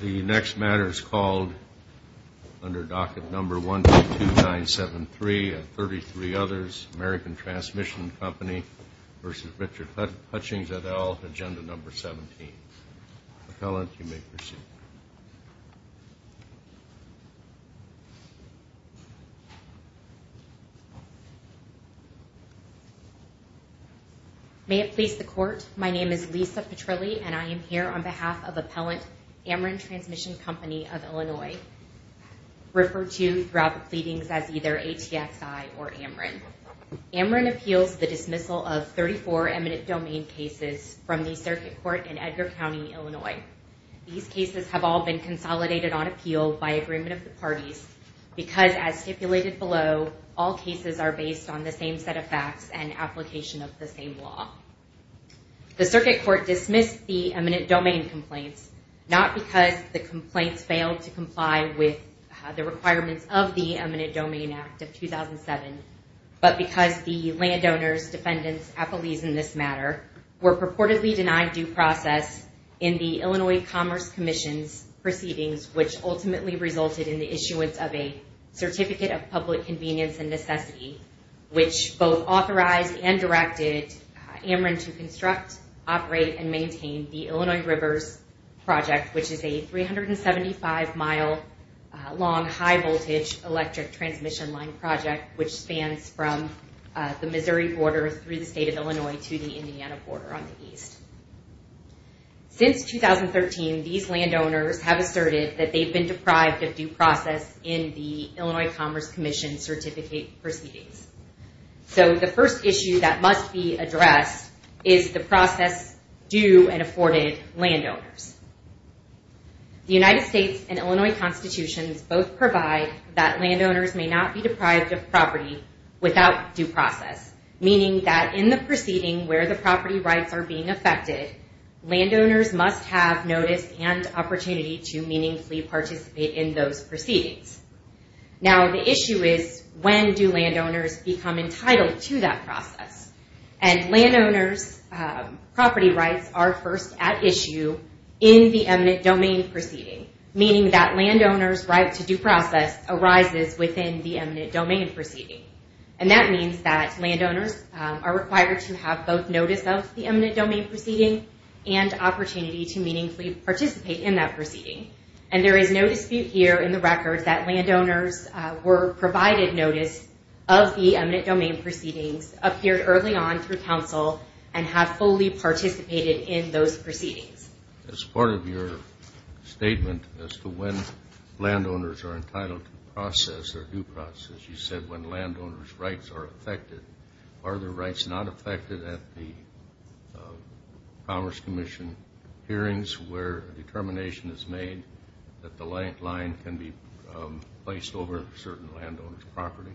The next matter is called under docket number 122973 and 33 others. American Transmission Company v. Richard Hutchings et al., agenda number 17. Appellant, you may proceed. May it please the court, my name is Lisa Petrilli and I am here on behalf of Appellant Ameren Transmission Company of Illinois, referred to throughout the pleadings as either ATXI or Ameren. Ameren appeals the dismissal of 34 eminent domain cases from the circuit court in Edgar County, Illinois. These cases have all been consolidated on appeal by agreement of the parties because as stipulated below, all cases are based on the same set of facts and application of the same law. The circuit court dismissed the eminent domain complaints, not because the complaints failed to comply with the requirements of the Eminent Domain Act of 2007, but because the landowners, defendants, appellees in this matter, were purportedly denied due process in the Illinois Commerce Commission's proceedings, which ultimately resulted in the issuance of a Certificate of Public Convenience and Necessity, which both authorized and directed Ameren to construct, operate and maintain the Illinois Rivers Project, which is a 375 mile long high voltage electric transmission line project, which spans from the Missouri border through the state of Illinois to the Indiana border on the east. Since 2013, these landowners have asserted that they've been deprived of due process in the Illinois Commerce Commission Certificate proceedings. So the first issue that must be addressed is the process due and afforded landowners. The United States and Illinois constitutions both provide that landowners may not be deprived of property without due process, meaning that in the proceeding where the property rights are being affected, landowners must have notice and opportunity to meaningfully participate in those proceedings. Now the issue is, when do landowners become entitled to that process? And landowners' property rights are first at issue in the eminent domain proceeding, meaning that landowners' right to due process arises within the eminent domain proceeding. And that means that landowners are required to have both notice of the eminent domain proceeding and opportunity to meaningfully participate in that proceeding. And there is no dispute here in the record that landowners were provided notice of the early on through counsel and have fully participated in those proceedings. As part of your statement as to when landowners are entitled to process or due process, you said when landowners' rights are affected, are their rights not affected at the Commerce Commission hearings where determination is made that the landline can be placed over certain landowners' property?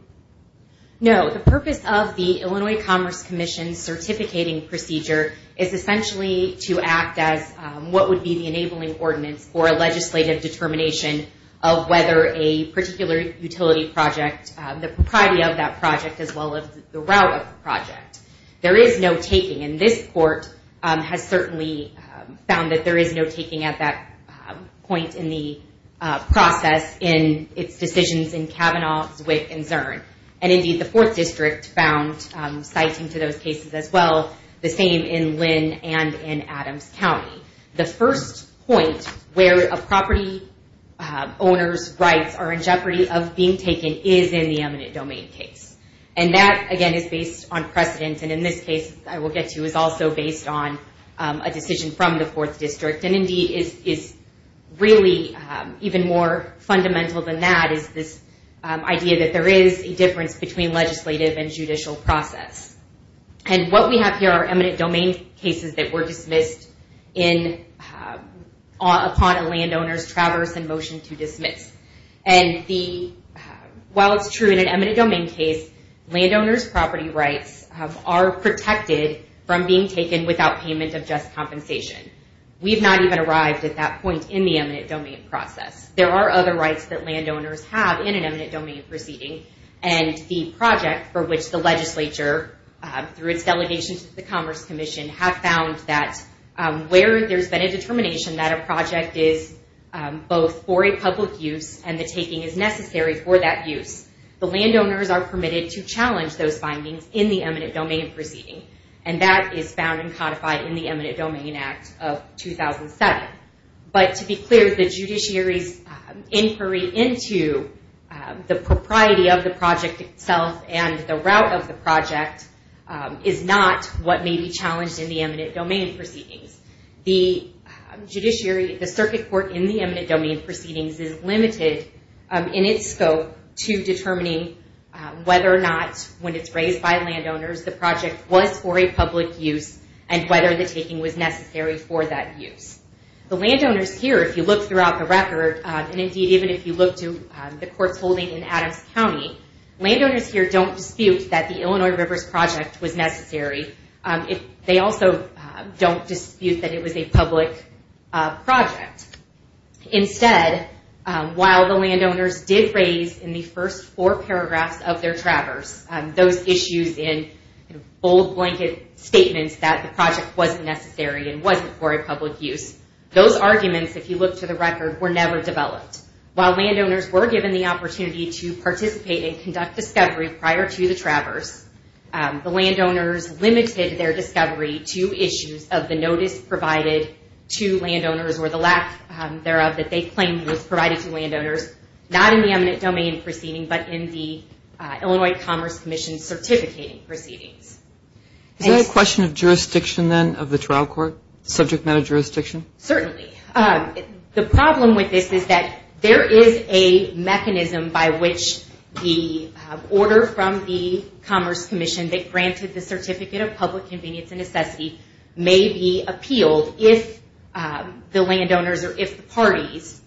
No. The purpose of the Illinois Commerce Commission's certificating procedure is essentially to act as what would be the enabling ordinance for a legislative determination of whether a particular utility project, the property of that project, as well as the route of the project. There is no taking. And this court has certainly found that there is no taking at that point in the process in its decisions in Kavanaugh, Zwick, and Zurn. And indeed, the Fourth District found citing to those cases as well, the same in Lynn and in Adams County. The first point where a property owner's rights are in jeopardy of being taken is in the eminent domain case. And that, again, is based on precedent, and in this case, I will get to, is also based on a decision from the Fourth District. And indeed, is really even more fundamental than that is this idea that there is a difference between legislative and judicial process. And what we have here are eminent domain cases that were dismissed upon a landowner's traverse and motion to dismiss. And while it's true in an eminent domain case, landowner's property rights are protected from being taken without payment of just compensation. We've not even arrived at that point in the eminent domain process. There are other rights that landowners have in an eminent domain proceeding, and the project for which the legislature, through its delegation to the Commerce Commission, have found that where there's been a determination that a project is both for a public use and the taking is necessary for that use, the landowners are permitted to challenge those findings in the eminent domain proceeding. And that is found and codified in the Eminent Domain Act of 2007. But to be clear, the judiciary's inquiry into the propriety of the project itself and the route of the project is not what may be challenged in the eminent domain proceedings. The circuit court in the eminent domain proceedings is limited in its scope to determining whether or not, when it's raised by landowners, the project was for a public use and whether the taking was necessary for that use. The landowners here, if you look throughout the record, and indeed even if you look to the courts holding in Adams County, landowners here don't dispute that the Illinois Rivers Project was necessary. They also don't dispute that it was a public project. Instead, while the landowners did raise in the first four paragraphs of their Traverse those issues in bold blanket statements that the project wasn't necessary and wasn't for a public use, those arguments, if you look to the record, were never developed. While landowners were given the opportunity to participate and conduct discovery prior to the Traverse, the landowners limited their discovery to issues of the notice provided to landowners or the lack thereof that they claimed was provided to landowners, not in the eminent domain proceeding but in the Illinois Commerce Commission's certificating proceedings. Is that a question of jurisdiction then of the trial court, subject matter jurisdiction? Certainly. The problem with this is that there is a mechanism by which the order from the Commerce Commission that granted the Certificate of Public Convenience and Necessity may be appealed if the landowners or if the parties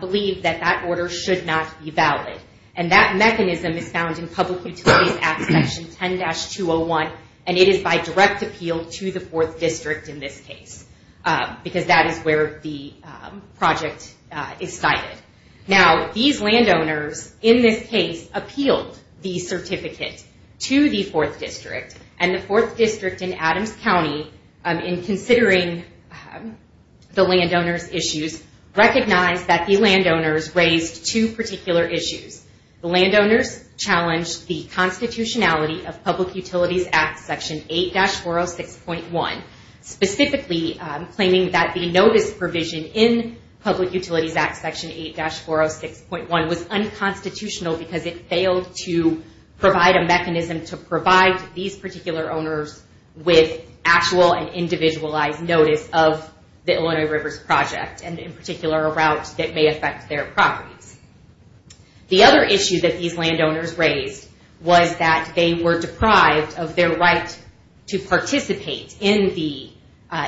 believe that that order should not be valid. That mechanism is found in Public Utilities Act Section 10-201, and it is by direct appeal to the Fourth District in this case, because that is where the project is cited. Now, these landowners in this case appealed the certificate to the Fourth District, and the Fourth District in Adams County, in considering the landowners' issues, recognized that the landowners raised two particular issues. The landowners challenged the constitutionality of Public Utilities Act Section 8-406.1, specifically claiming that the notice provision in Public Utilities Act Section 8-406.1 was unconstitutional because it failed to provide a mechanism to provide these particular owners with actual and individualized notice of the Illinois Rivers Project, and in particular, a route that may affect their properties. The other issue that these landowners raised was that they were deprived of their right to participate in the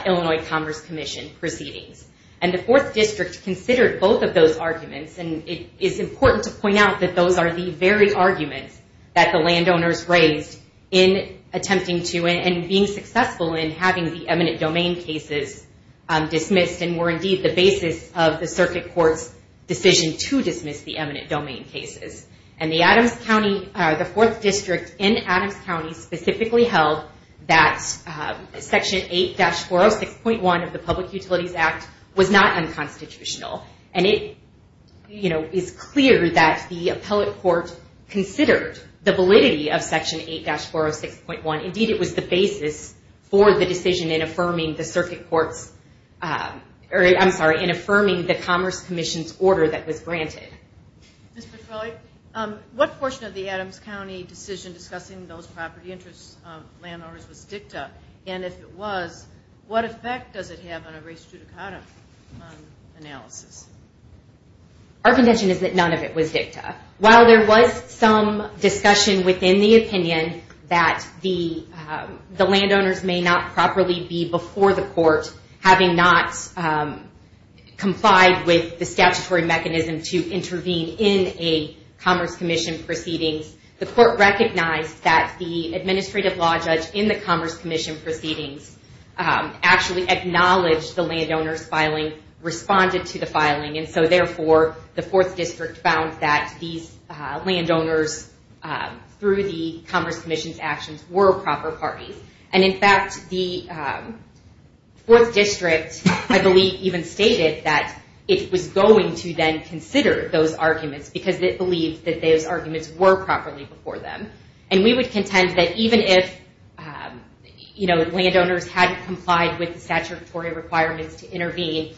Illinois Commerce Commission proceedings, and the Fourth District considered both of those arguments, and it is important to point out that those are the very arguments that the landowners raised in attempting to, and being successful in having the eminent domain cases dismissed, and were indeed the basis of the Circuit Court's decision to dismiss the eminent domain cases, and the Adams County, the Fourth District in Adams County specifically held that Section 8-406.1 of the Public Utilities Act was not unconstitutional, and it is clear that the appellate court considered the validity of Section 8-406.1. Indeed, it was the basis for the decision in affirming the Circuit Court's, I'm sorry, in affirming the Commerce Commission's order that was granted. Ms. Petroi, what portion of the Adams County decision discussing those property interests of landowners was dicta, and if it was, what effect does it have on a race judicata analysis? Our contention is that none of it was dicta. While there was some discussion within the opinion that the landowners may not properly be before the court, having not complied with the statutory mechanism to intervene in a Commerce Commission proceedings, the court recognized that the administrative law judge in the Commerce Commission proceedings actually acknowledged the landowner's filing, responded to the filing, and so therefore, the Fourth District found that these landowners, through the Commerce Commission's actions, were proper parties. And in fact, the Fourth District, I believe, even stated that it was good that it was going to then consider those arguments, because it believed that those arguments were properly before them. And we would contend that even if, you know, landowners had complied with the statutory requirements to intervene,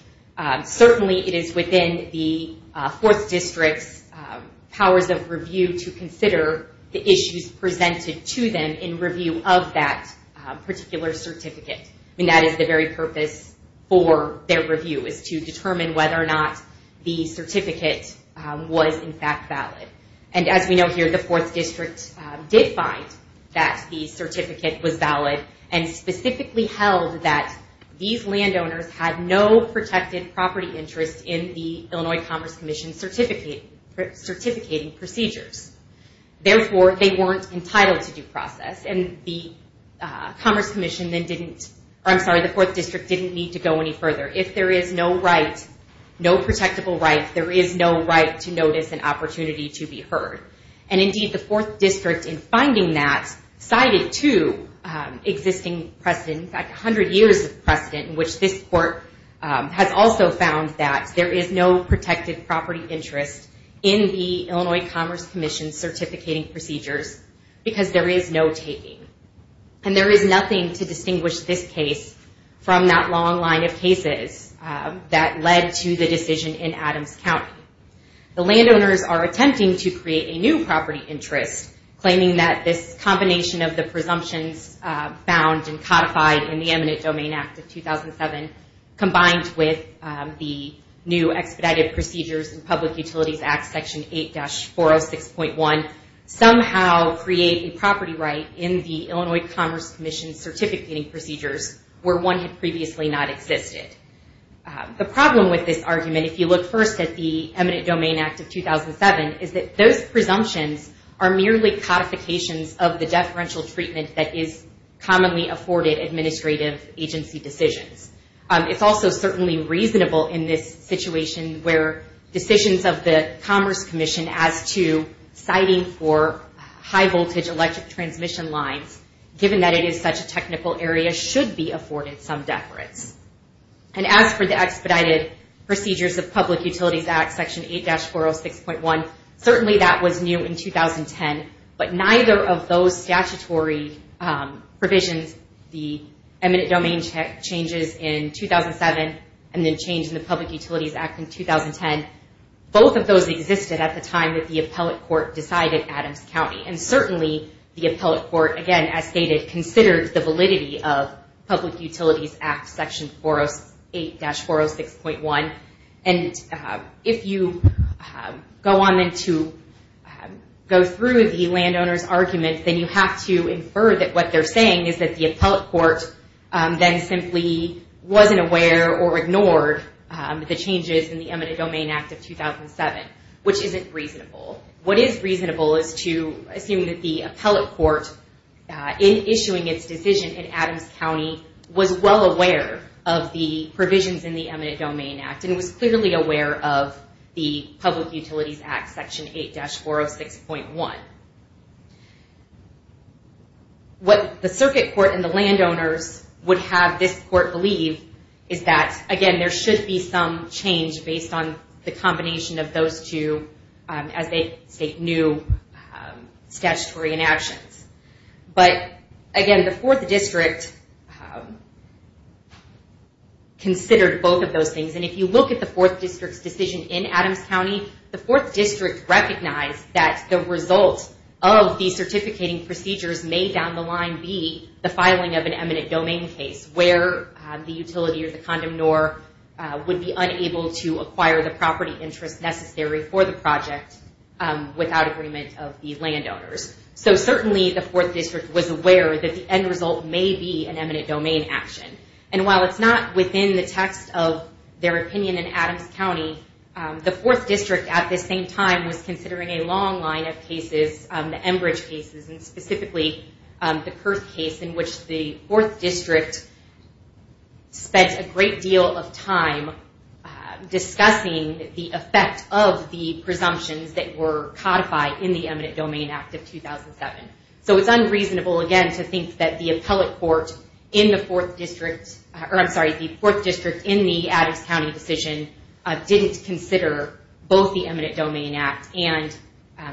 certainly it is within the Fourth District's powers of review to consider the issues presented to them in review of that particular certificate. I mean, that is the very purpose for their review, is to determine whether or not the certificate was in fact valid. And as we know here, the Fourth District did find that the certificate was valid, and specifically held that these landowners had no protected property interest in the Illinois Commerce Commission's certificating procedures. Therefore, they didn't, I'm sorry, the Fourth District didn't need to go any further. If there is no right, no protectable right, there is no right to notice an opportunity to be heard. And indeed, the Fourth District, in finding that, cited two existing precedents, in fact, a hundred years of precedent, in which this Court has also found that there is no protected property interest in the Illinois Commerce Commission's certificating procedures, because there is no taking. And there is nothing to distinguish this case from that long line of cases that led to the decision in Adams County. The landowners are attempting to create a new property interest, claiming that this combination of the presumptions found and codified in the Eminent Domain Act of 2007, combined with the new expedited procedures in Public Utilities Act Section 8-406.1, somehow create a property right in the Illinois Commerce Commission's certificating procedures where one had previously not existed. The problem with this argument, if you look first at the Eminent Domain Act of 2007, is that those presumptions are merely codifications of the deferential treatment that is commonly afforded administrative agency decisions. It's also certainly reasonable in this situation where decisions of the Commerce Commission as to citing for high voltage electric transmission lines, given that it is such a technical area, should be afforded some deference. And as for the expedited procedures of Public Utilities Act Section 8-406.1, certainly that was new in 2010, but neither of those statutory provisions, the Eminent Domain changes in 2007, and the change in the Public Utilities Act in 2010, both of those existed at the time that the appellate court decided Adams County. And certainly the appellate court, again, as stated, considered the validity of Public Utilities Act Section 8-406.1. And if you go on then to go through the landowner's argument, then you have to infer that what they're saying is that the appellate court then simply wasn't aware or ignored the changes in the Eminent Domain Act of 2007, which isn't reasonable. What is reasonable is to assume that the appellate court, in issuing its decision in Adams County, was well aware of the provisions in the Eminent Domain Act and was clearly aware of the Public Utilities Act Section 8-406.1. What the circuit court and the landowners would have this court believe is that, again, there should be some change based on the combination of those two as they state new statutory inactions. But again, the Fourth District considered both of those things. And if you look at the Fourth District's decision in Adams County, the Fourth District recognized that the result of the certificating procedures may down the line be the filing of an eminent domain case where the utility or the condominor would be unable to acquire the property interest necessary for the project without agreement of the landowners. So certainly the Fourth District was aware that the end result may be an eminent domain action. And while it's not within the text of their opinion in Adams County, the Fourth District at the same time was considering a long line of cases, the Enbridge cases, and specifically the Kurth case in which the Fourth District spent a great deal of time discussing the effect of the presumptions that were codified in the Eminent Domain Act of 2007. So it's unreasonable, again, to think that the appellate court in the Fourth District in the Adams County decision didn't consider both the Eminent Domain Act and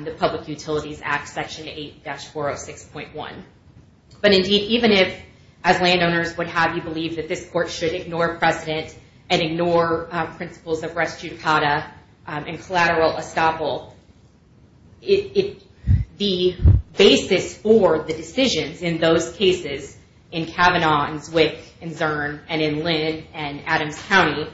the Public Procedure Act 406.1. But indeed, even if as landowners would have you believe that this court should ignore precedent and ignore principles of res judicata and collateral estoppel, the basis for the decisions in those cases in Kavanaugh and Zwick and Zurn and in Lynn and Adams County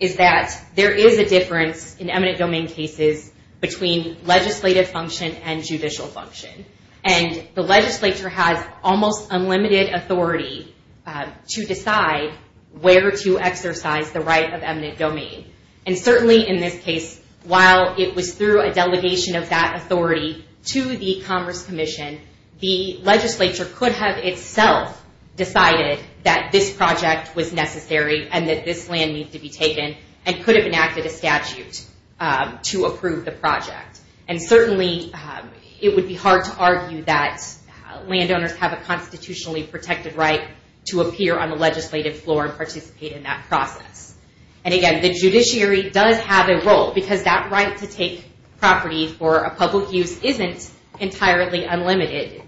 is that there is a difference in eminent domain cases between legislative function and judicial function. And the legislature has almost unlimited authority to decide where to exercise the right of eminent domain. And certainly in this case, while it was through a delegation of that authority to the Commerce Commission, the legislature could have itself decided that this project was necessary and that this land needs to be taken and could have enacted a statute to approve the project. And certainly it would be hard to argue that landowners have a constitutionally protected right to appear on the legislative floor and participate in that process. And again, the judiciary does have a role because that right to take property for a public use isn't entirely unlimited.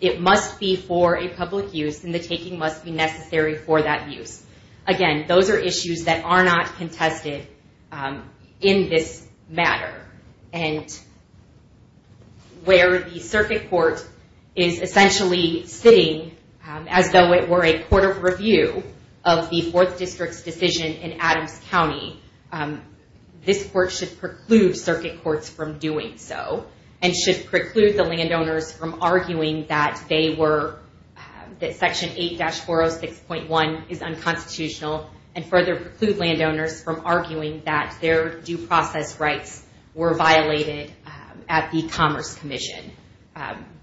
It must be for a public use and the taking must be necessary for that use. Again, those are issues that are not contested in this matter. And where the circuit court is essentially sitting as though it were a court of review of the 4th District's decision in Adams County, this court should preclude circuit courts from doing so and should preclude the landowners from arguing that they were, that Section 8-406.1 is unconstitutional and further preclude landowners from arguing that their due process rights were violated at the Commerce Commission,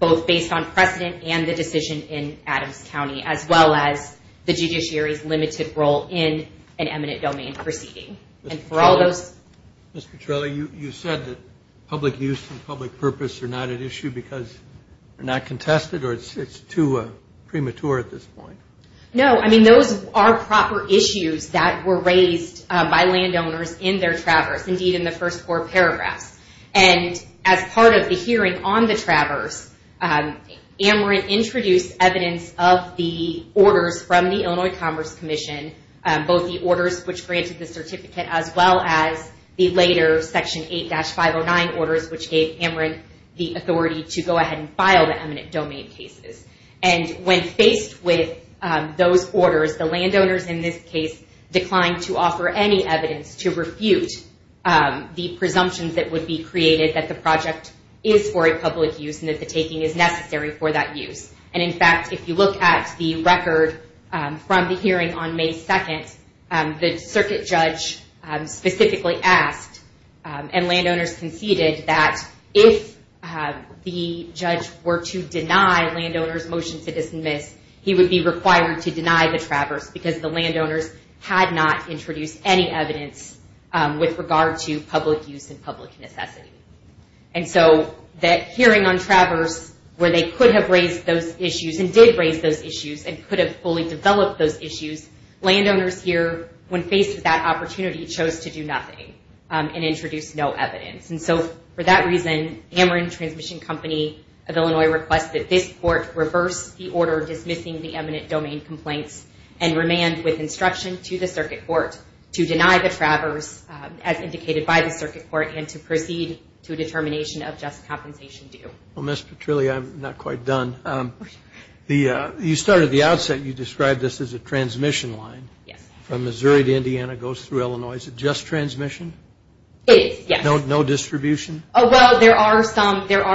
both based on precedent and the decision in Adams County, as well as the judiciary's limited role in an eminent domain proceeding. And for all those... Mr. Trella, you said that public use and public purpose are not at issue because they're not contested or it's too premature at this point? No, I mean those are proper issues that were raised by landowners in their traverse, indeed in the first four paragraphs. And as part of the hearing on the traverse, Amarant introduced evidence of the orders from the Illinois Commerce Commission, both the orders which granted the certificate as well as the later Section 8-509 orders which gave Amarant the authority to go ahead and file the eminent domain cases. And when faced with those orders, the landowners in this case declined to offer any evidence to refute the presumptions that would be created that the project is for a public use and that the taking is necessary for that use. And in fact, if you look at the record from the hearing on May 2nd, the circuit judge specifically asked and landowners conceded that if the judge were to deny landowners' motion to dismiss, he would be required to deny the traverse because the landowners had not introduced any evidence with regard to public use and public necessity. And so that hearing on traverse where they could have raised those issues and did raise those issues and could have fully developed those issues, landowners here, when faced with that opportunity, chose to do nothing and introduced no evidence. And so for that reason, Amarant Transmission Company of Illinois requested this court reverse the order dismissing the eminent domain complaints and remand with instruction to the circuit court to deny the traverse as indicated by the circuit court and to proceed to a determination of just compensation due. Well, Ms. Petrilli, I'm not quite done. You started at the outset. You described this as a transmission line from Missouri to Indiana, goes through Illinois. Is it just transmission? It is, yes. No distribution? Oh, well, there are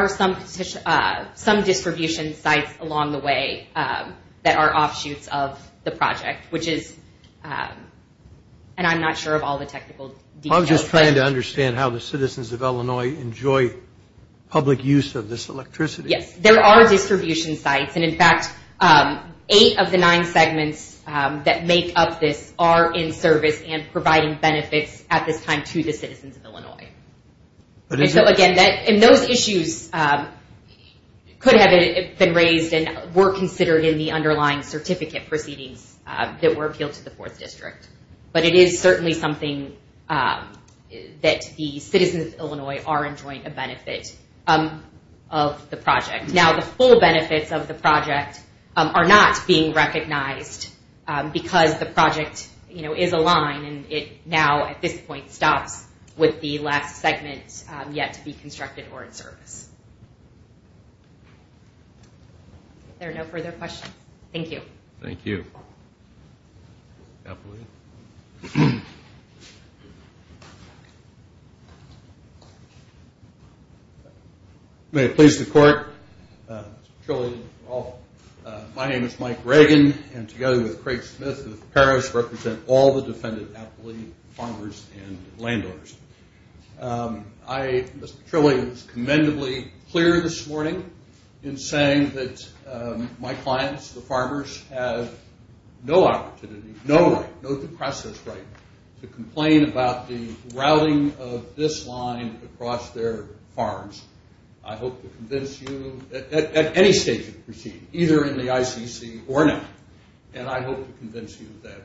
some distribution sites along the way that are offshoots of the project, which is, and I'm not sure of all the technical details. I'm just trying to understand how the citizens of Illinois enjoy public use of this electricity. There are distribution sites, and in fact, eight of the nine segments that make up this are in service and providing benefits at this time to the citizens of Illinois. And so again, those issues could have been raised and were considered in the underlying certificate proceedings that were appealed to the 4th District. But it is certainly something that the citizens of Illinois are enjoying a benefit of the project. Now, the full benefits of the project are not being recognized because the project, you know, is a line, and it now at this point stops with the last segment yet to be constructed or in service. Are there no further questions? Thank you. May it please the Court, Mr. Petrilli, my name is Mike Reagan, and together with Craig Smith of Paris, represent all the defendant appellee farmers and landowners. Mr. Petrilli was commendably clear this morning in saying that my clients, the farmers, have no opportunity, no right, no due process right to complain about the routing of this line across their farms. I hope to convince you, at any stage of the proceeding, either in the ICC or not, and I hope to convince you that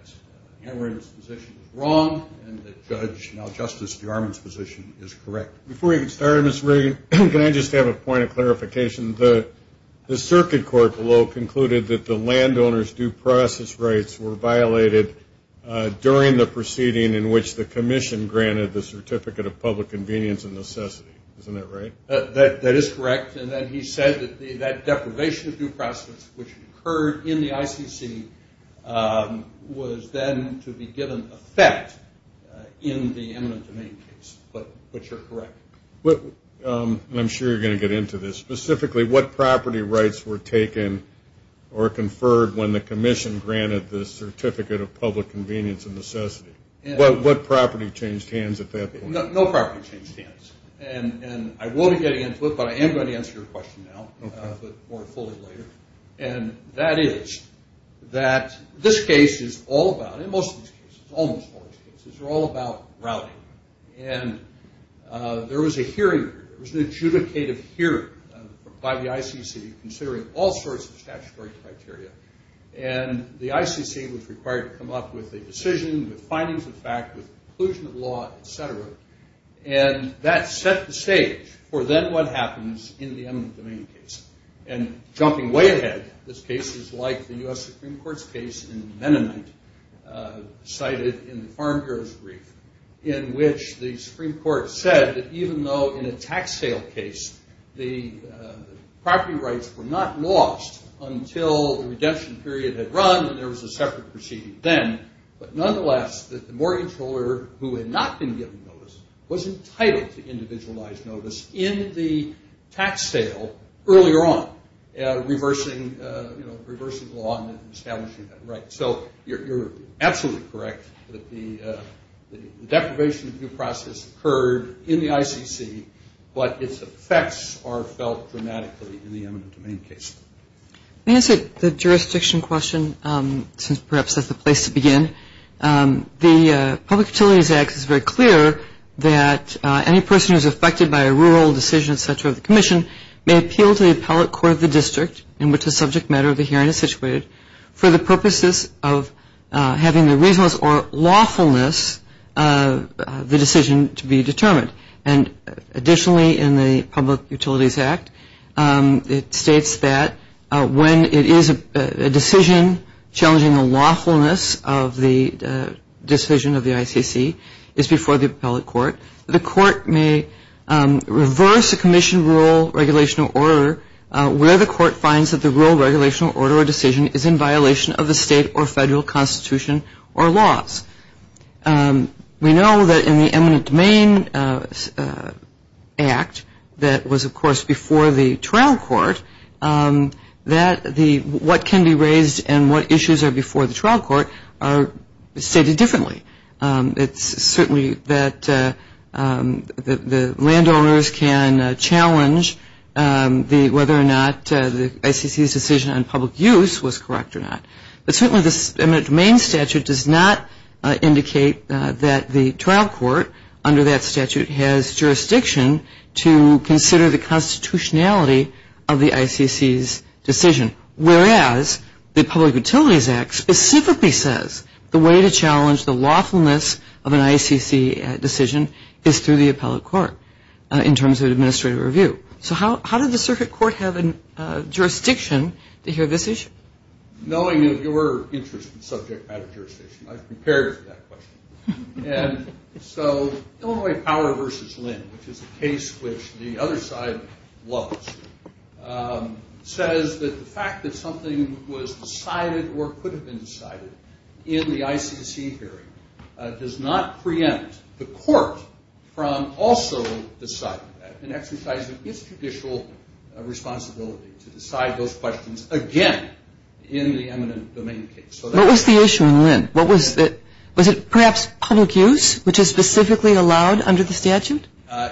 Cameron's position is wrong and that Judge Maljustice Jarman's position is correct. Before we even start, Mr. Reagan, can I just have a point of clarification? The circuit court below concluded that the landowner's due process rights were violated during the proceeding in which the Commission granted the Certificate of Public Convenience and Necessity, isn't that right? That is correct, and then he said that deprivation of due process, which occurred in the ICC, was then to be given effect in the eminent domain case, but you're correct. I'm sure you're going to get into this. Specifically, what property rights were taken or conferred when the Commission granted the Certificate of Public Convenience and Necessity? What property changed hands at that point? No property changed hands, and I won't get into it, but I am going to answer your question now, but more fully later, and that is that this case is all about, and most of these cases, almost all about, neutrality, and there was a hearing, there was an adjudicative hearing by the ICC considering all sorts of statutory criteria, and the ICC was required to come up with a decision, with findings of fact, with inclusion of law, etc., and that set the stage for then what happens in the eminent domain case, and jumping way ahead, this case is like the U.S. in which the Supreme Court said that even though in a tax sale case, the property rights were not lost until the redemption period had run, and there was a separate proceeding then, but nonetheless, that the mortgage holder, who had not been given notice, was entitled to individualized notice in the tax sale earlier on, reversing the law and establishing that so you're absolutely correct that the deprivation review process occurred in the ICC, but its effects are felt dramatically in the eminent domain case. Let me answer the jurisdiction question, since perhaps that's the place to begin. The Public Utilities Act is very clear that any person who is affected by a rural decision, etc., of the commission may appeal to the appellate court of the district in which the subject matter of the hearing is situated for the purposes of having the reasonableness or lawfulness of the decision to be determined. And additionally, in the Public Utilities Act, it states that when it is a decision challenging the lawfulness of the decision of the ICC, it's before the appellate court. The court may reverse a commission rule, regulation, or order where the court finds that the rule, regulation, or order, or decision is in violation of the state or federal constitution or laws. We know that in the eminent domain act that was, of course, before the trial court, that what can be raised and what issues are before the trial court are stated differently. It's certainly that the landowners can challenge whether or not the ICC's decision on public use was correct or not. But certainly the eminent domain statute does not indicate that the trial court under that statute has jurisdiction to consider the constitutionality of the ICC's decision. Whereas the Public Utilities Act specifically says the way to challenge the lawfulness of an ICC decision is through the appellate court in terms of administrative review. So how did the circuit court have jurisdiction to hear this issue? Knowing your interest in subject matter jurisdiction, I've prepared for that question. And so Illinois Power v. Lynn, which is a case which the other side loves, says that the fact that something was decided or could have been decided in the ICC hearing does not preempt the court from also deciding that and exercising its judicial responsibility to decide those questions again in the eminent domain case. What was the issue in Lynn? Was it perhaps public use, which is specifically allowed under the statute?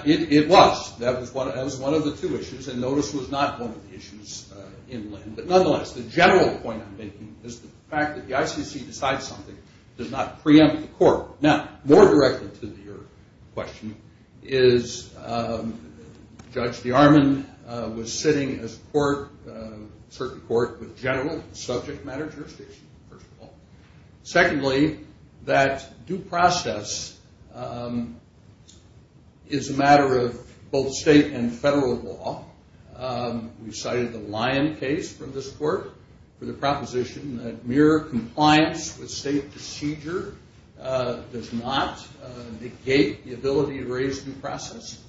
It was. That was one of the two issues. And notice was not one of the issues in Lynn. But nonetheless, the general point I'm making is the fact that the ICC decides something does not preempt the court. Now, more directly to your question is Judge DeArmond was sitting as court, circuit court, with general subject matter jurisdiction, first of all. Secondly, that due process is a matter of both state and federal law. We cited the Lyon case from this court for the proposition that mere compliance with state procedure does not negate the ability to raise due process.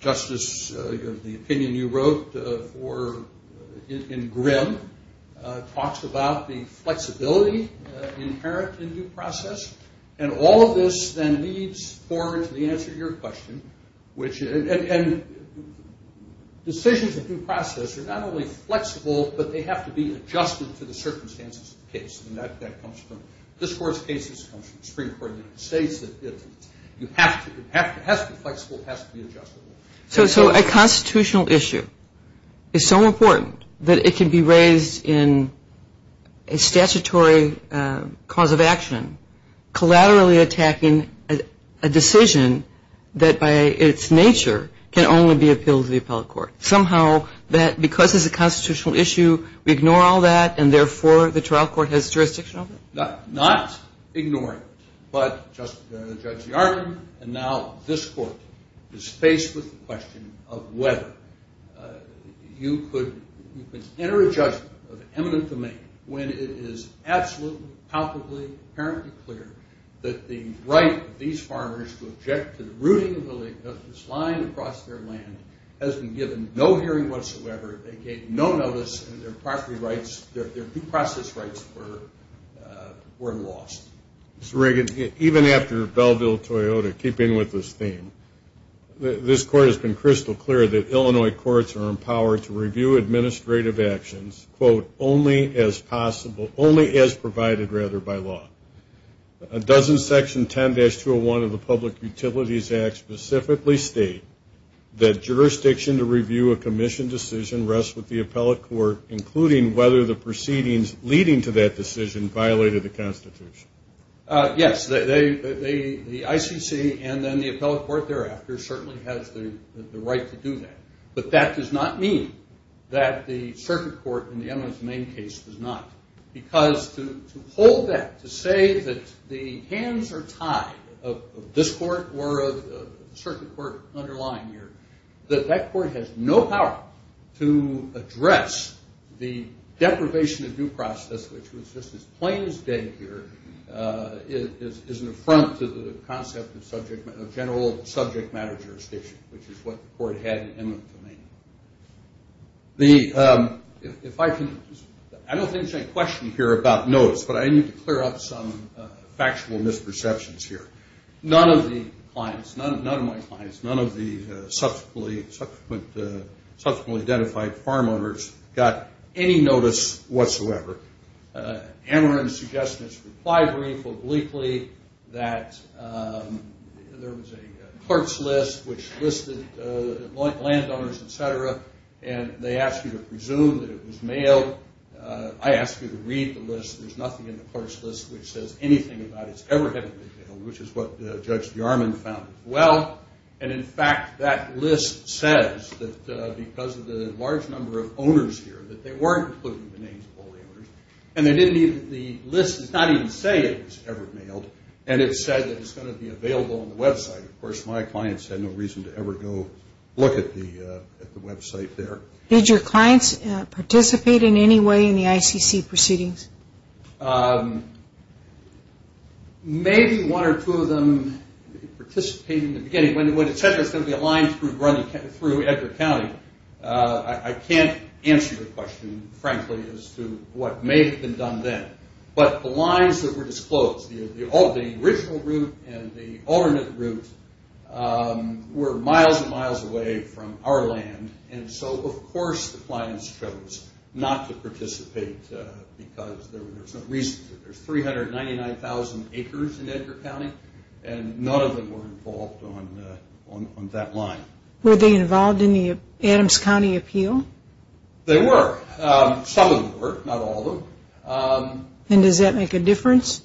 Justice, the opinion you wrote in Grimm talks about the flexibility inherent in due process. And all of this then leads forward to the answer to your question. And decisions of due process are not only flexible, but they have to be adjusted to the circumstances of the case. And that comes from this court's case. It comes from the Supreme Court of the United States. It has to be flexible. It has to be adjustable. So a constitutional issue is so important that it can be raised in a statutory cause of action, collaterally attacking a decision that by its nature can only be appealed to the appellate court. Somehow that because it's a constitutional issue, we ignore all that, and therefore the trial court has jurisdiction over it? Not ignoring it, but Judge DeArmond and now this court is faced with the question of whether you could enter a judgment of eminent domain when it is absolutely, palpably, apparently clear that the right of these farmers to object to the no hearing whatsoever, they gave no notice, and their property rights, their due process rights were lost. Mr. Reagan, even after Belleville-Toyota, keeping with this theme, this court has been crystal clear that Illinois courts are empowered to review administrative actions, quote, only as possible, only as provided rather by law. Doesn't Section 10-201 of the Public Utilities Act specifically state that jurisdiction to review a commission decision rests with the appellate court, including whether the proceedings leading to that decision violated the Constitution? Yes. The ICC and then the appellate court thereafter certainly has the right to do that, but that does not mean that the circuit court in the eminence domain case does not, because to hold that, to say that the hands are tied of this court or of the circuit court underlying here, that that court has no power to address the deprivation of due process, which was just as plain as day here, is an affront to the concept of general subject matter jurisdiction, which is what the court had in eminence domain. The, if I can, I don't think there's any question here about notice, but I need to clear up some factual misperceptions here. None of the clients, none of my clients, none of the subsequently identified farm owners got any notice whatsoever. Amarin's suggestions reply briefly, obliquely, that there was a clerk's list which listed landowners, etc., and they asked you to presume that it was mailed. I asked you to read the list. There's nothing in the clerk's list which says anything about its ever having been mailed, which is what Judge Jarman found as well, and in fact, that list says that because of the large number of owners here, that they weren't including the names of all the owners, and the list does not even say it was ever mailed, and it said that it's going to be available on the website. Of course, my clients had no reason to ever go look at the website there. Did your clients participate in any way in the ICC proceedings? Maybe one or two of them participated in the beginning, a line through Edgar County. I can't answer your question, frankly, as to what may have been done then, but the lines that were disclosed, the original route and the alternate route were miles and miles away from our land, and so, of course, the clients chose not to participate because there's no reason to. There's 399,000 acres in Edgar County, and none of them were involved on that line. Were they involved in the Adams County Appeal? They were. Some of them were, not all of them. And does that make a difference?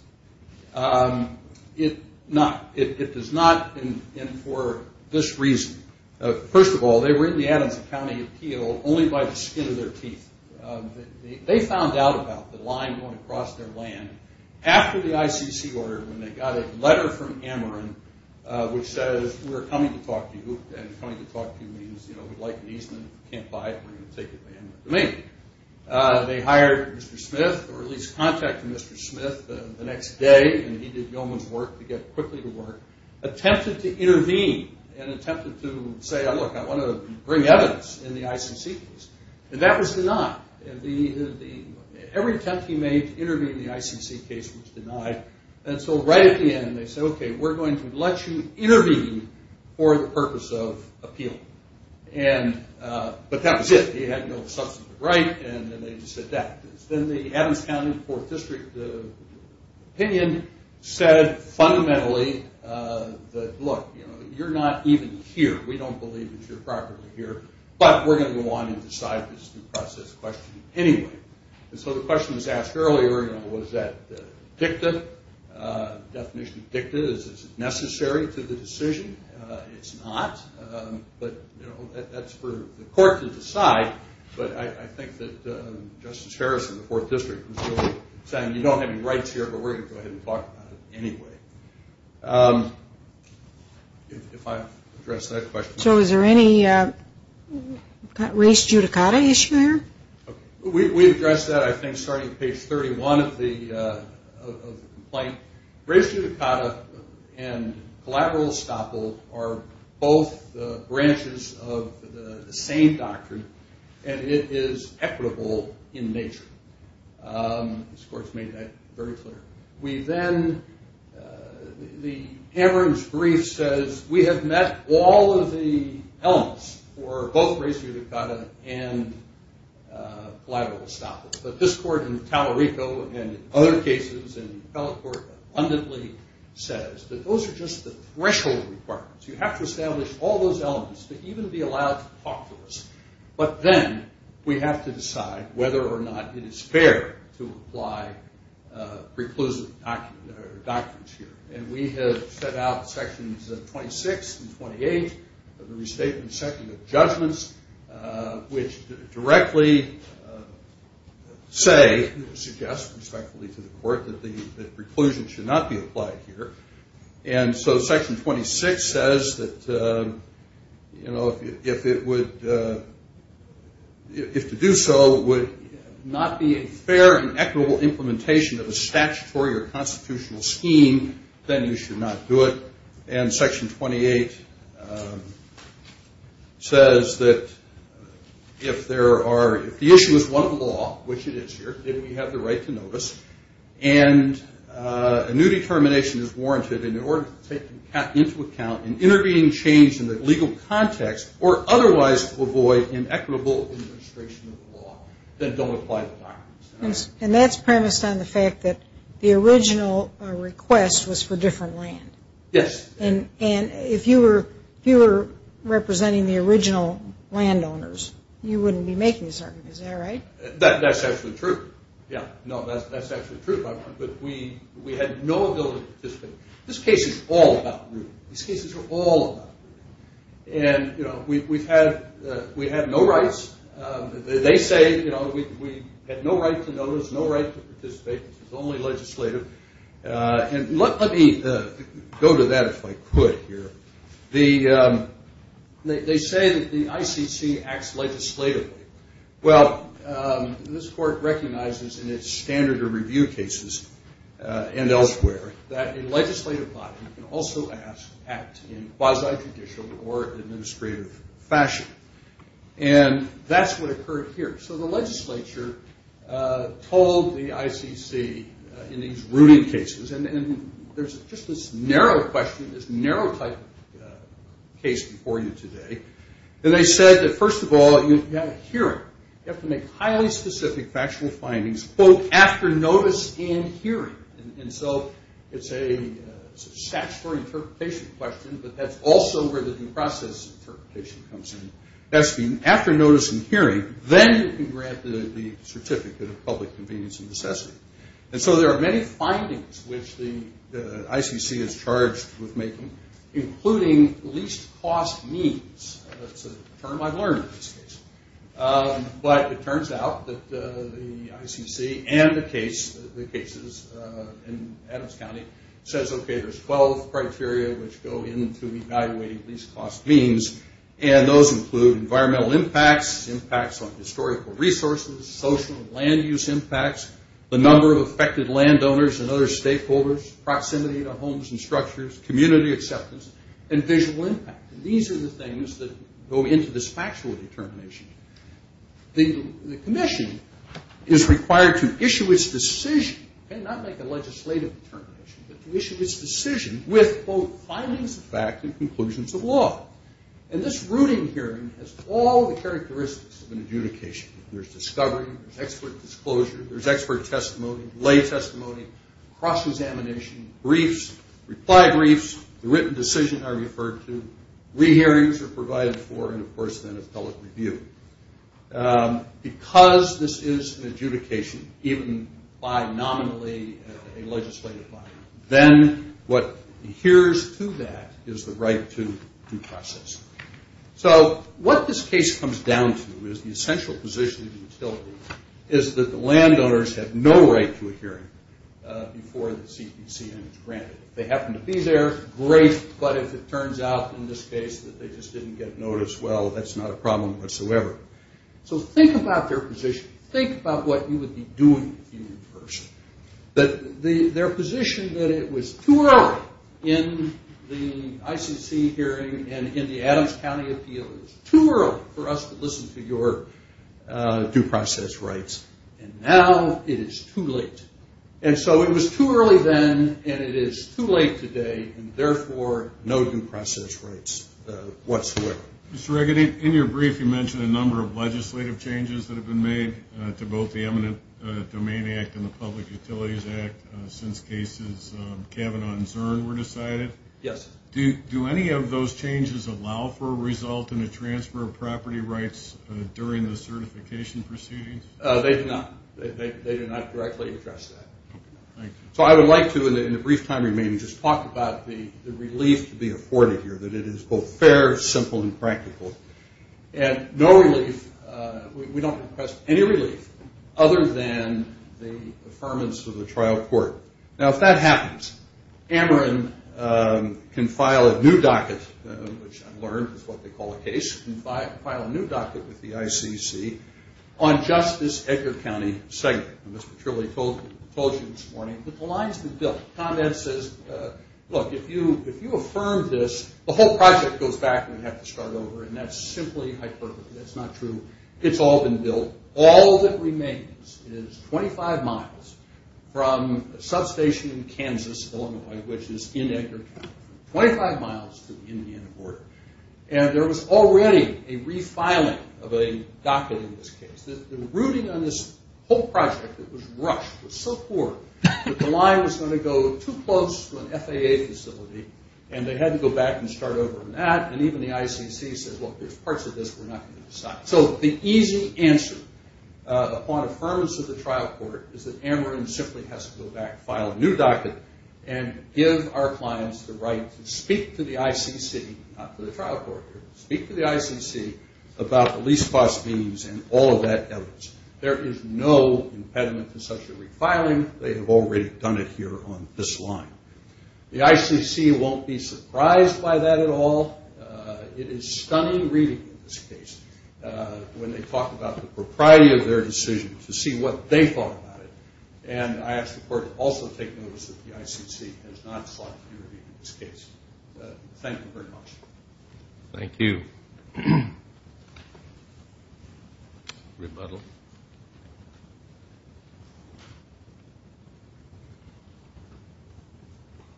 It does not, and for this reason. First of all, they were in the Adams County Appeal only by the skin of their teeth. They found out about the line going across their land after the ICC ordered, when they got a letter from Ameren, which says, we're coming to talk to you, and coming to talk to you means we'd like an easement, can't buy it, we're going to take it to Ameren. They hired Mr. Smith, or at least contacted Mr. Smith the next day, and he did Gilman's work to get quickly to work, attempted to intervene and attempted to say, look, I want to bring evidence in the ICC case, and that was denied. Every attempt he made to intervene in the ICC case was denied, and so right at the end they said, okay, we're going to let you intervene for the purpose of appeal. But that was it. He had no substantive right, and then they just said that. Then the Adams County 4th District opinion said fundamentally that, look, you're not even here, we don't believe that you're properly here, but we're going to go on and decide this due process question anyway. And so the question was asked earlier, you know, was that dicta, the definition of dicta, is it necessary to the decision? It's not, but, you know, that's for the court to decide, but I think that Justice Harrison of the 4th District was really saying, you don't have any rights here, but we're going to go ahead and talk about it anyway. If I addressed that question. So is there any race judicata issue here? We addressed that, I think, starting at page 31 of the complaint. Race judicata and collateral estoppel are both branches of the same doctrine, and it is equitable in nature. This court's made that very clear. We then, the Amherst brief says we have met all of the elements for both race judicata and collateral estoppel, but this court in Tallarico and other cases and the appellate court abundantly says that those are just the threshold requirements, you have to establish all those elements to even be allowed to talk to us, but then we have to decide whether or not it is fair to apply preclusive doctrines here, and we have set out sections 26 and 28 of the restatement section of judgments, which directly say, suggest respectfully to the court, that preclusion should not be applied here, and so section 26 says that, you know, if it would, if to do so would not be a fair and equitable implementation of a statutory or constitutional scheme, then you should not do it, and section 28 says that if there are, if the issue is one of the law, which it is here, then we have the right to notice, and a new determination is warranted in order to take into account an intervening change in the legal context, or otherwise to avoid an equitable administration of the law, then don't apply the doctrines. And that's premised on the fact that the original request was for different land. Yes. And if you were representing the original landowners, you wouldn't be making this argument, is that right? That's actually true, yeah. No, that's actually true, but we had no ability to participate. This case is all about rule. This case is all about rule. And, you know, we've had no rights. They say, you know, we had no right to notice, no right to participate. This is only legislative. And let me go to that if I could here. They say that the ICC acts legislatively. Well, this court recognizes in its standard of review cases and elsewhere that a legislative body can also act in quasi-judicial or administrative fashion. And that's what occurred here. So the legislature told the ICC in these rooted cases, and there's just this narrow question, this narrow type of case before you today. And they said that, first of all, you have a hearing. You have to make highly specific factual findings, quote, after notice in hearing. And so it's a statutory interpretation question, but that's also where the due process interpretation comes in. That's been after notice in hearing. Then you can grant the certificate of public convenience and necessity. And so there are many findings which the ICC is charged with making, including least cost means. That's a term I've learned in this case. But it turns out that the ICC and the cases in Adams County says, okay, there's 12 criteria which go into evaluating least cost means, and those include environmental impacts, impacts on historical resources, social and land use impacts, the number of affected landowners and other stakeholders, proximity to homes and structures, community acceptance, and visual impact. These are the things that go into this factual determination. The commission is required to issue its decision, not make a legislative determination, but to issue its decision with, quote, findings of fact and conclusions of law. And this rooting hearing has all the characteristics of an adjudication. There's discovery, there's expert disclosure, there's expert testimony, lay testimony, cross-examination, briefs, reply briefs, the written decision I referred to, re-hearings are provided for, and, of course, then a public review. Because this is an adjudication, even by nominally a legislative body, then what adheres to that is the right to due process. So what this case comes down to is the essential position of the utility is that the landowners have no right to a hearing before the CPCN is granted. If they happen to be there, great. But if it turns out in this case that they just didn't get notice, well, that's not a problem whatsoever. So think about their position. Think about what you would be doing if you were the person. Their position that it was too early in the ICC hearing and in the Adams County appeal, it was too early for us to listen to your due process rights, and now it is too late. And so it was too early then, and it is too late today, and, therefore, no due process rights whatsoever. Mr. Regan, in your brief, you mentioned a number of legislative changes that have been made to both the Eminent Domain Act and the Public Utilities Act since cases Cavanaugh and Zurn were decided. Yes. Do any of those changes allow for a result in a transfer of property rights during the certification proceedings? They do not. They do not directly address that. So I would like to, in the brief time remaining, just talk about the relief to be afforded here, that it is both fair, simple, and practical. And no relief, we don't request any relief other than the affirmance of the trial court. Now, if that happens, Ameren can file a new docket, which I've learned is what they call a case, and file a new docket with the ICC on just this Edgar County segment. Mr. Trilley told you this morning that the line's been built. Tom Ed says, look, if you affirm this, the whole project goes back and we have to start over, and that's simply hyperbole. That's not true. It's all been built. All that remains is 25 miles from a substation in Kansas, Illinois, which is in Edgar County, 25 miles to the Indiana border. And there was already a refiling of a docket in this case. The routing on this whole project that was rushed was so poor that the line was going to go too close to an FAA facility, and they had to go back and start over on that, and even the ICC says, look, there's parts of this we're not going to decide. So the easy answer upon affirmance of the trial court is that Ameren simply has to go back, file a new docket, and give our clients the right to speak to the ICC, not to the trial court here, speak to the ICC about the lease cost means and all of that evidence. There is no impediment to such a refiling. They have already done it here on this line. The ICC won't be surprised by that at all. It is stunning reading in this case when they talk about the propriety of their decision to see what they thought about it, and I ask the court to also take notice that the ICC has not sought to do anything in this case. Thank you very much. Thank you. Rebuttal.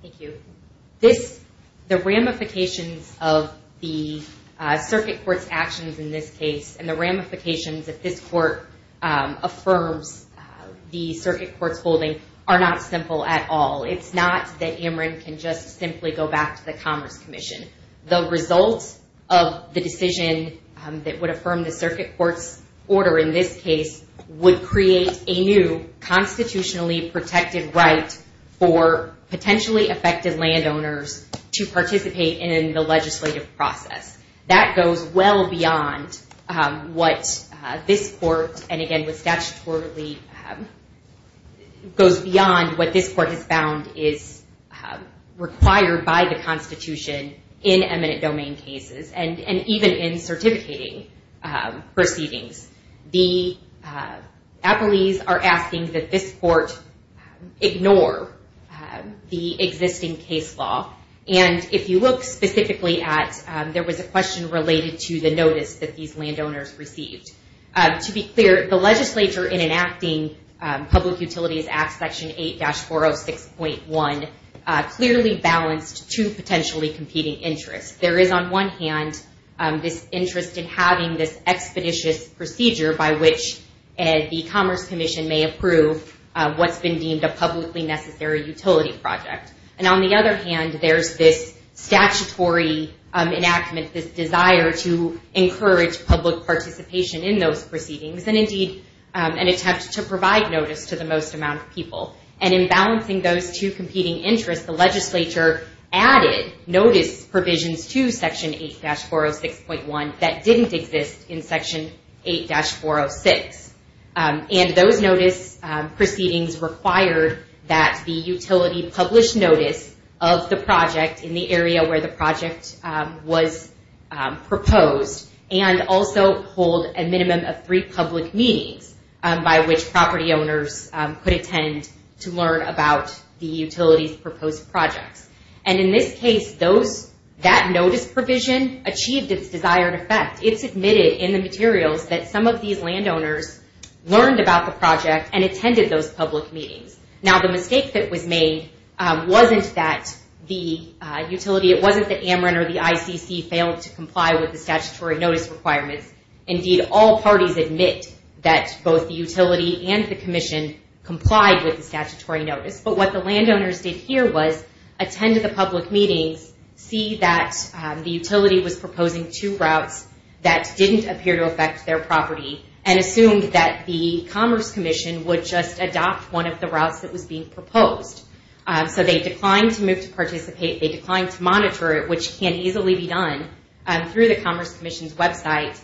Thank you. The ramifications of the circuit court's actions in this case and the ramifications that this court affirms the circuit court's holding are not simple at all. It's not that Ameren can just simply go back to the Commerce Commission. The results of the decision that would affirm the circuit court's order in this case would create a new constitutionally protected right for potentially affected landowners to participate in the legislative process. That goes well beyond what this court, and again what statutorily goes beyond what this court has found is required by the constitution in eminent domain cases and even in certificating proceedings. The appellees are asking that this court ignore the existing case law, and if you look specifically at, there was a question related to the notice that these landowners received. To be clear, the legislature in enacting Public Utilities Act Section 8-406.1 clearly balanced two potentially competing interests. There is on one hand this interest in having this expeditious procedure by which the Commerce Commission may approve what's been deemed a publicly necessary utility project, and on the other hand there's this statutory enactment, this desire to encourage public participation in those proceedings, and indeed an attempt to provide notice to the most amount of people. In balancing those two competing interests, the legislature added notice provisions to Section 8-406.1 that didn't exist in Section 8-406. Those notice proceedings required that the utility publish notice of the project in the area where the project was proposed, and also hold a minimum of three public meetings by which property owners could attend to learn about the utility's proposed projects. In this case, that notice provision achieved its desired effect. It's admitted in the materials that some of these landowners learned about the project and attended those public meetings. Now, the mistake that was made wasn't that the utility, it wasn't that AMRIN or the ICC failed to comply with the statutory notice requirements. Indeed, all parties admit that both the utility and the commission complied with the statutory notice, but what the landowners did here was attend the public meetings, see that the utility was proposing two routes that didn't appear to affect their property, and assumed that the Commerce Commission would just adopt one of the routes that was being proposed. So they declined to move to participate, they declined to monitor it, which can easily be done through the Commerce Commission's website.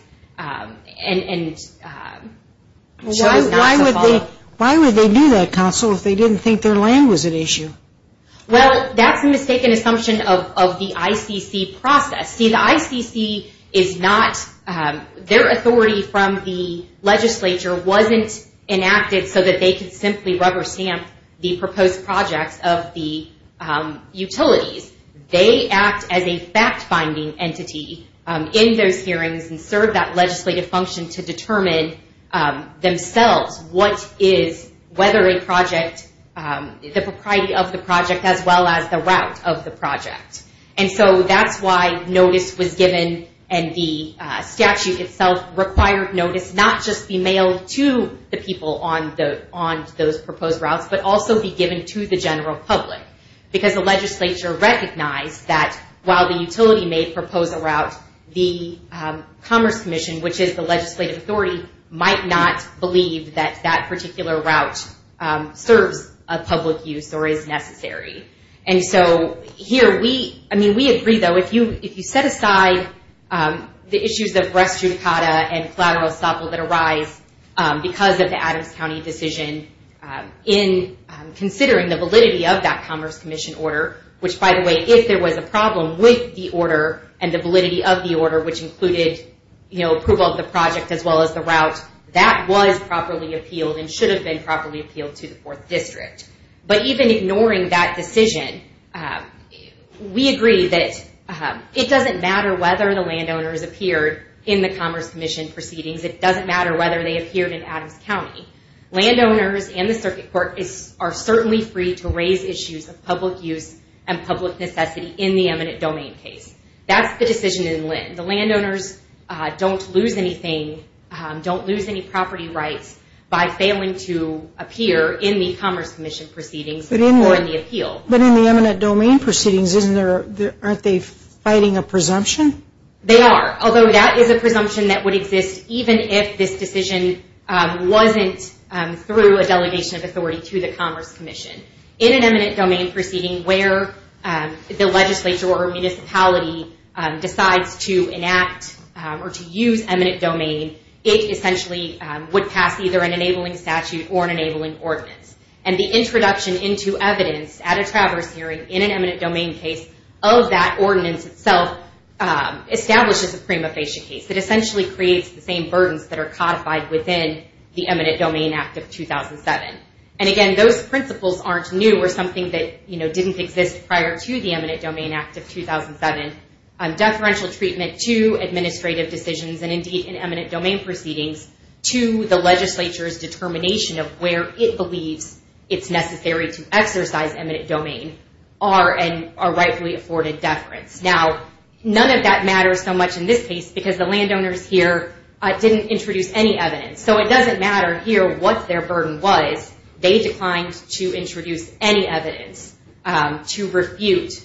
Why would they do that, Counsel, if they didn't think their land was at issue? Well, that's a mistaken assumption of the ICC process. See, the ICC is not, their authority from the legislature wasn't enacted so that they could simply rubber stamp the proposed projects of the utilities. They act as a fact-finding entity in those hearings and serve that legislative function to determine themselves what is, whether a project, the propriety of the project, as well as the route of the project. And so that's why notice was given, and the statute itself required notice not just be mailed to the people on those proposed routes, but also be given to the general public. Because the legislature recognized that while the utility may propose a route, the Commerce Commission, which is the legislative authority, might not believe that that particular route serves a public use or is necessary. And so here we, I mean, we agree, though, if you set aside the issues of Breast Judicata and collateral estoppel that arise because of the Adams County decision, in considering the validity of that Commerce Commission order, which, by the way, if there was a problem with the order and the validity of the order, which included, you know, approval of the project as well as the route, that was properly appealed and should have been properly appealed to the 4th District. But even ignoring that decision, we agree that it doesn't matter whether the landowners appeared in the Commerce Commission proceedings. It doesn't matter whether they appeared in Adams County. Landowners and the Circuit Court are certainly free to raise issues of public use and public necessity in the eminent domain case. That's the decision in Linn. The landowners don't lose anything, don't lose any property rights by failing to appear in the Commerce Commission proceedings or in the appeal. But in the eminent domain proceedings, aren't they fighting a presumption? They are, although that is a presumption that would exist even if this decision wasn't through a delegation of authority to the Commerce Commission. In an eminent domain proceeding where the legislature or municipality decides to enact or to use eminent domain, it essentially would pass either an enabling statute or an enabling ordinance. And the introduction into evidence at a traverse hearing in an eminent domain case of that ordinance itself establishes a prima facie case. It essentially creates the same burdens that are codified within the Eminent Domain Act of 2007. And again, those principles aren't new or something that didn't exist prior to the Eminent Domain Act of 2007. Deferential treatment to administrative decisions and indeed in eminent domain proceedings to the legislature's determination of where it believes it's necessary to exercise eminent domain are rightfully afforded deference. Now, none of that matters so much in this case because the landowners here didn't introduce any evidence. They declined to introduce any evidence to refute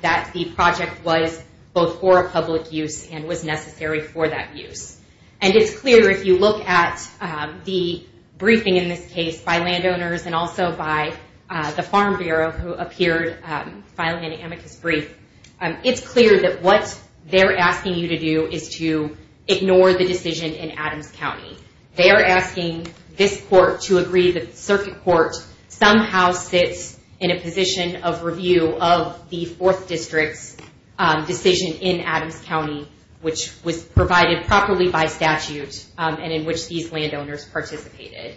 that the project was both for a public use and was necessary for that use. And it's clear if you look at the briefing in this case by landowners and also by the Farm Bureau who appeared filing an amicus brief, it's clear that what they're asking you to do is to ignore the decision in Adams County. They are asking this court to agree that the circuit court somehow sits in a position of review of the 4th District's decision in Adams County which was provided properly by statute and in which these landowners participated.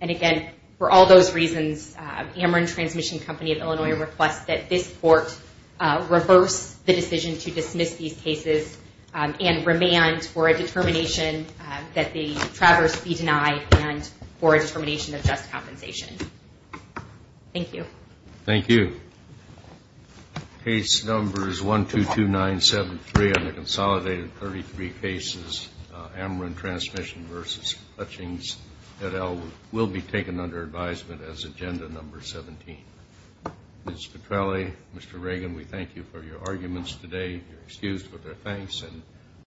And again, for all those reasons, Ameren Transmission Company of Illinois requests that this court reverse the decision to dismiss these cases and remand for a determination that the traverse be denied and for a determination of just compensation. Thank you. Thank you. Case numbers 122973 on the consolidated 33 cases Ameren Transmission v. Hutchings et al. will be taken under advisement as agenda number 17. Ms. Petrelli, Mr. Reagan, we thank you for your arguments today. You're excused with our thanks.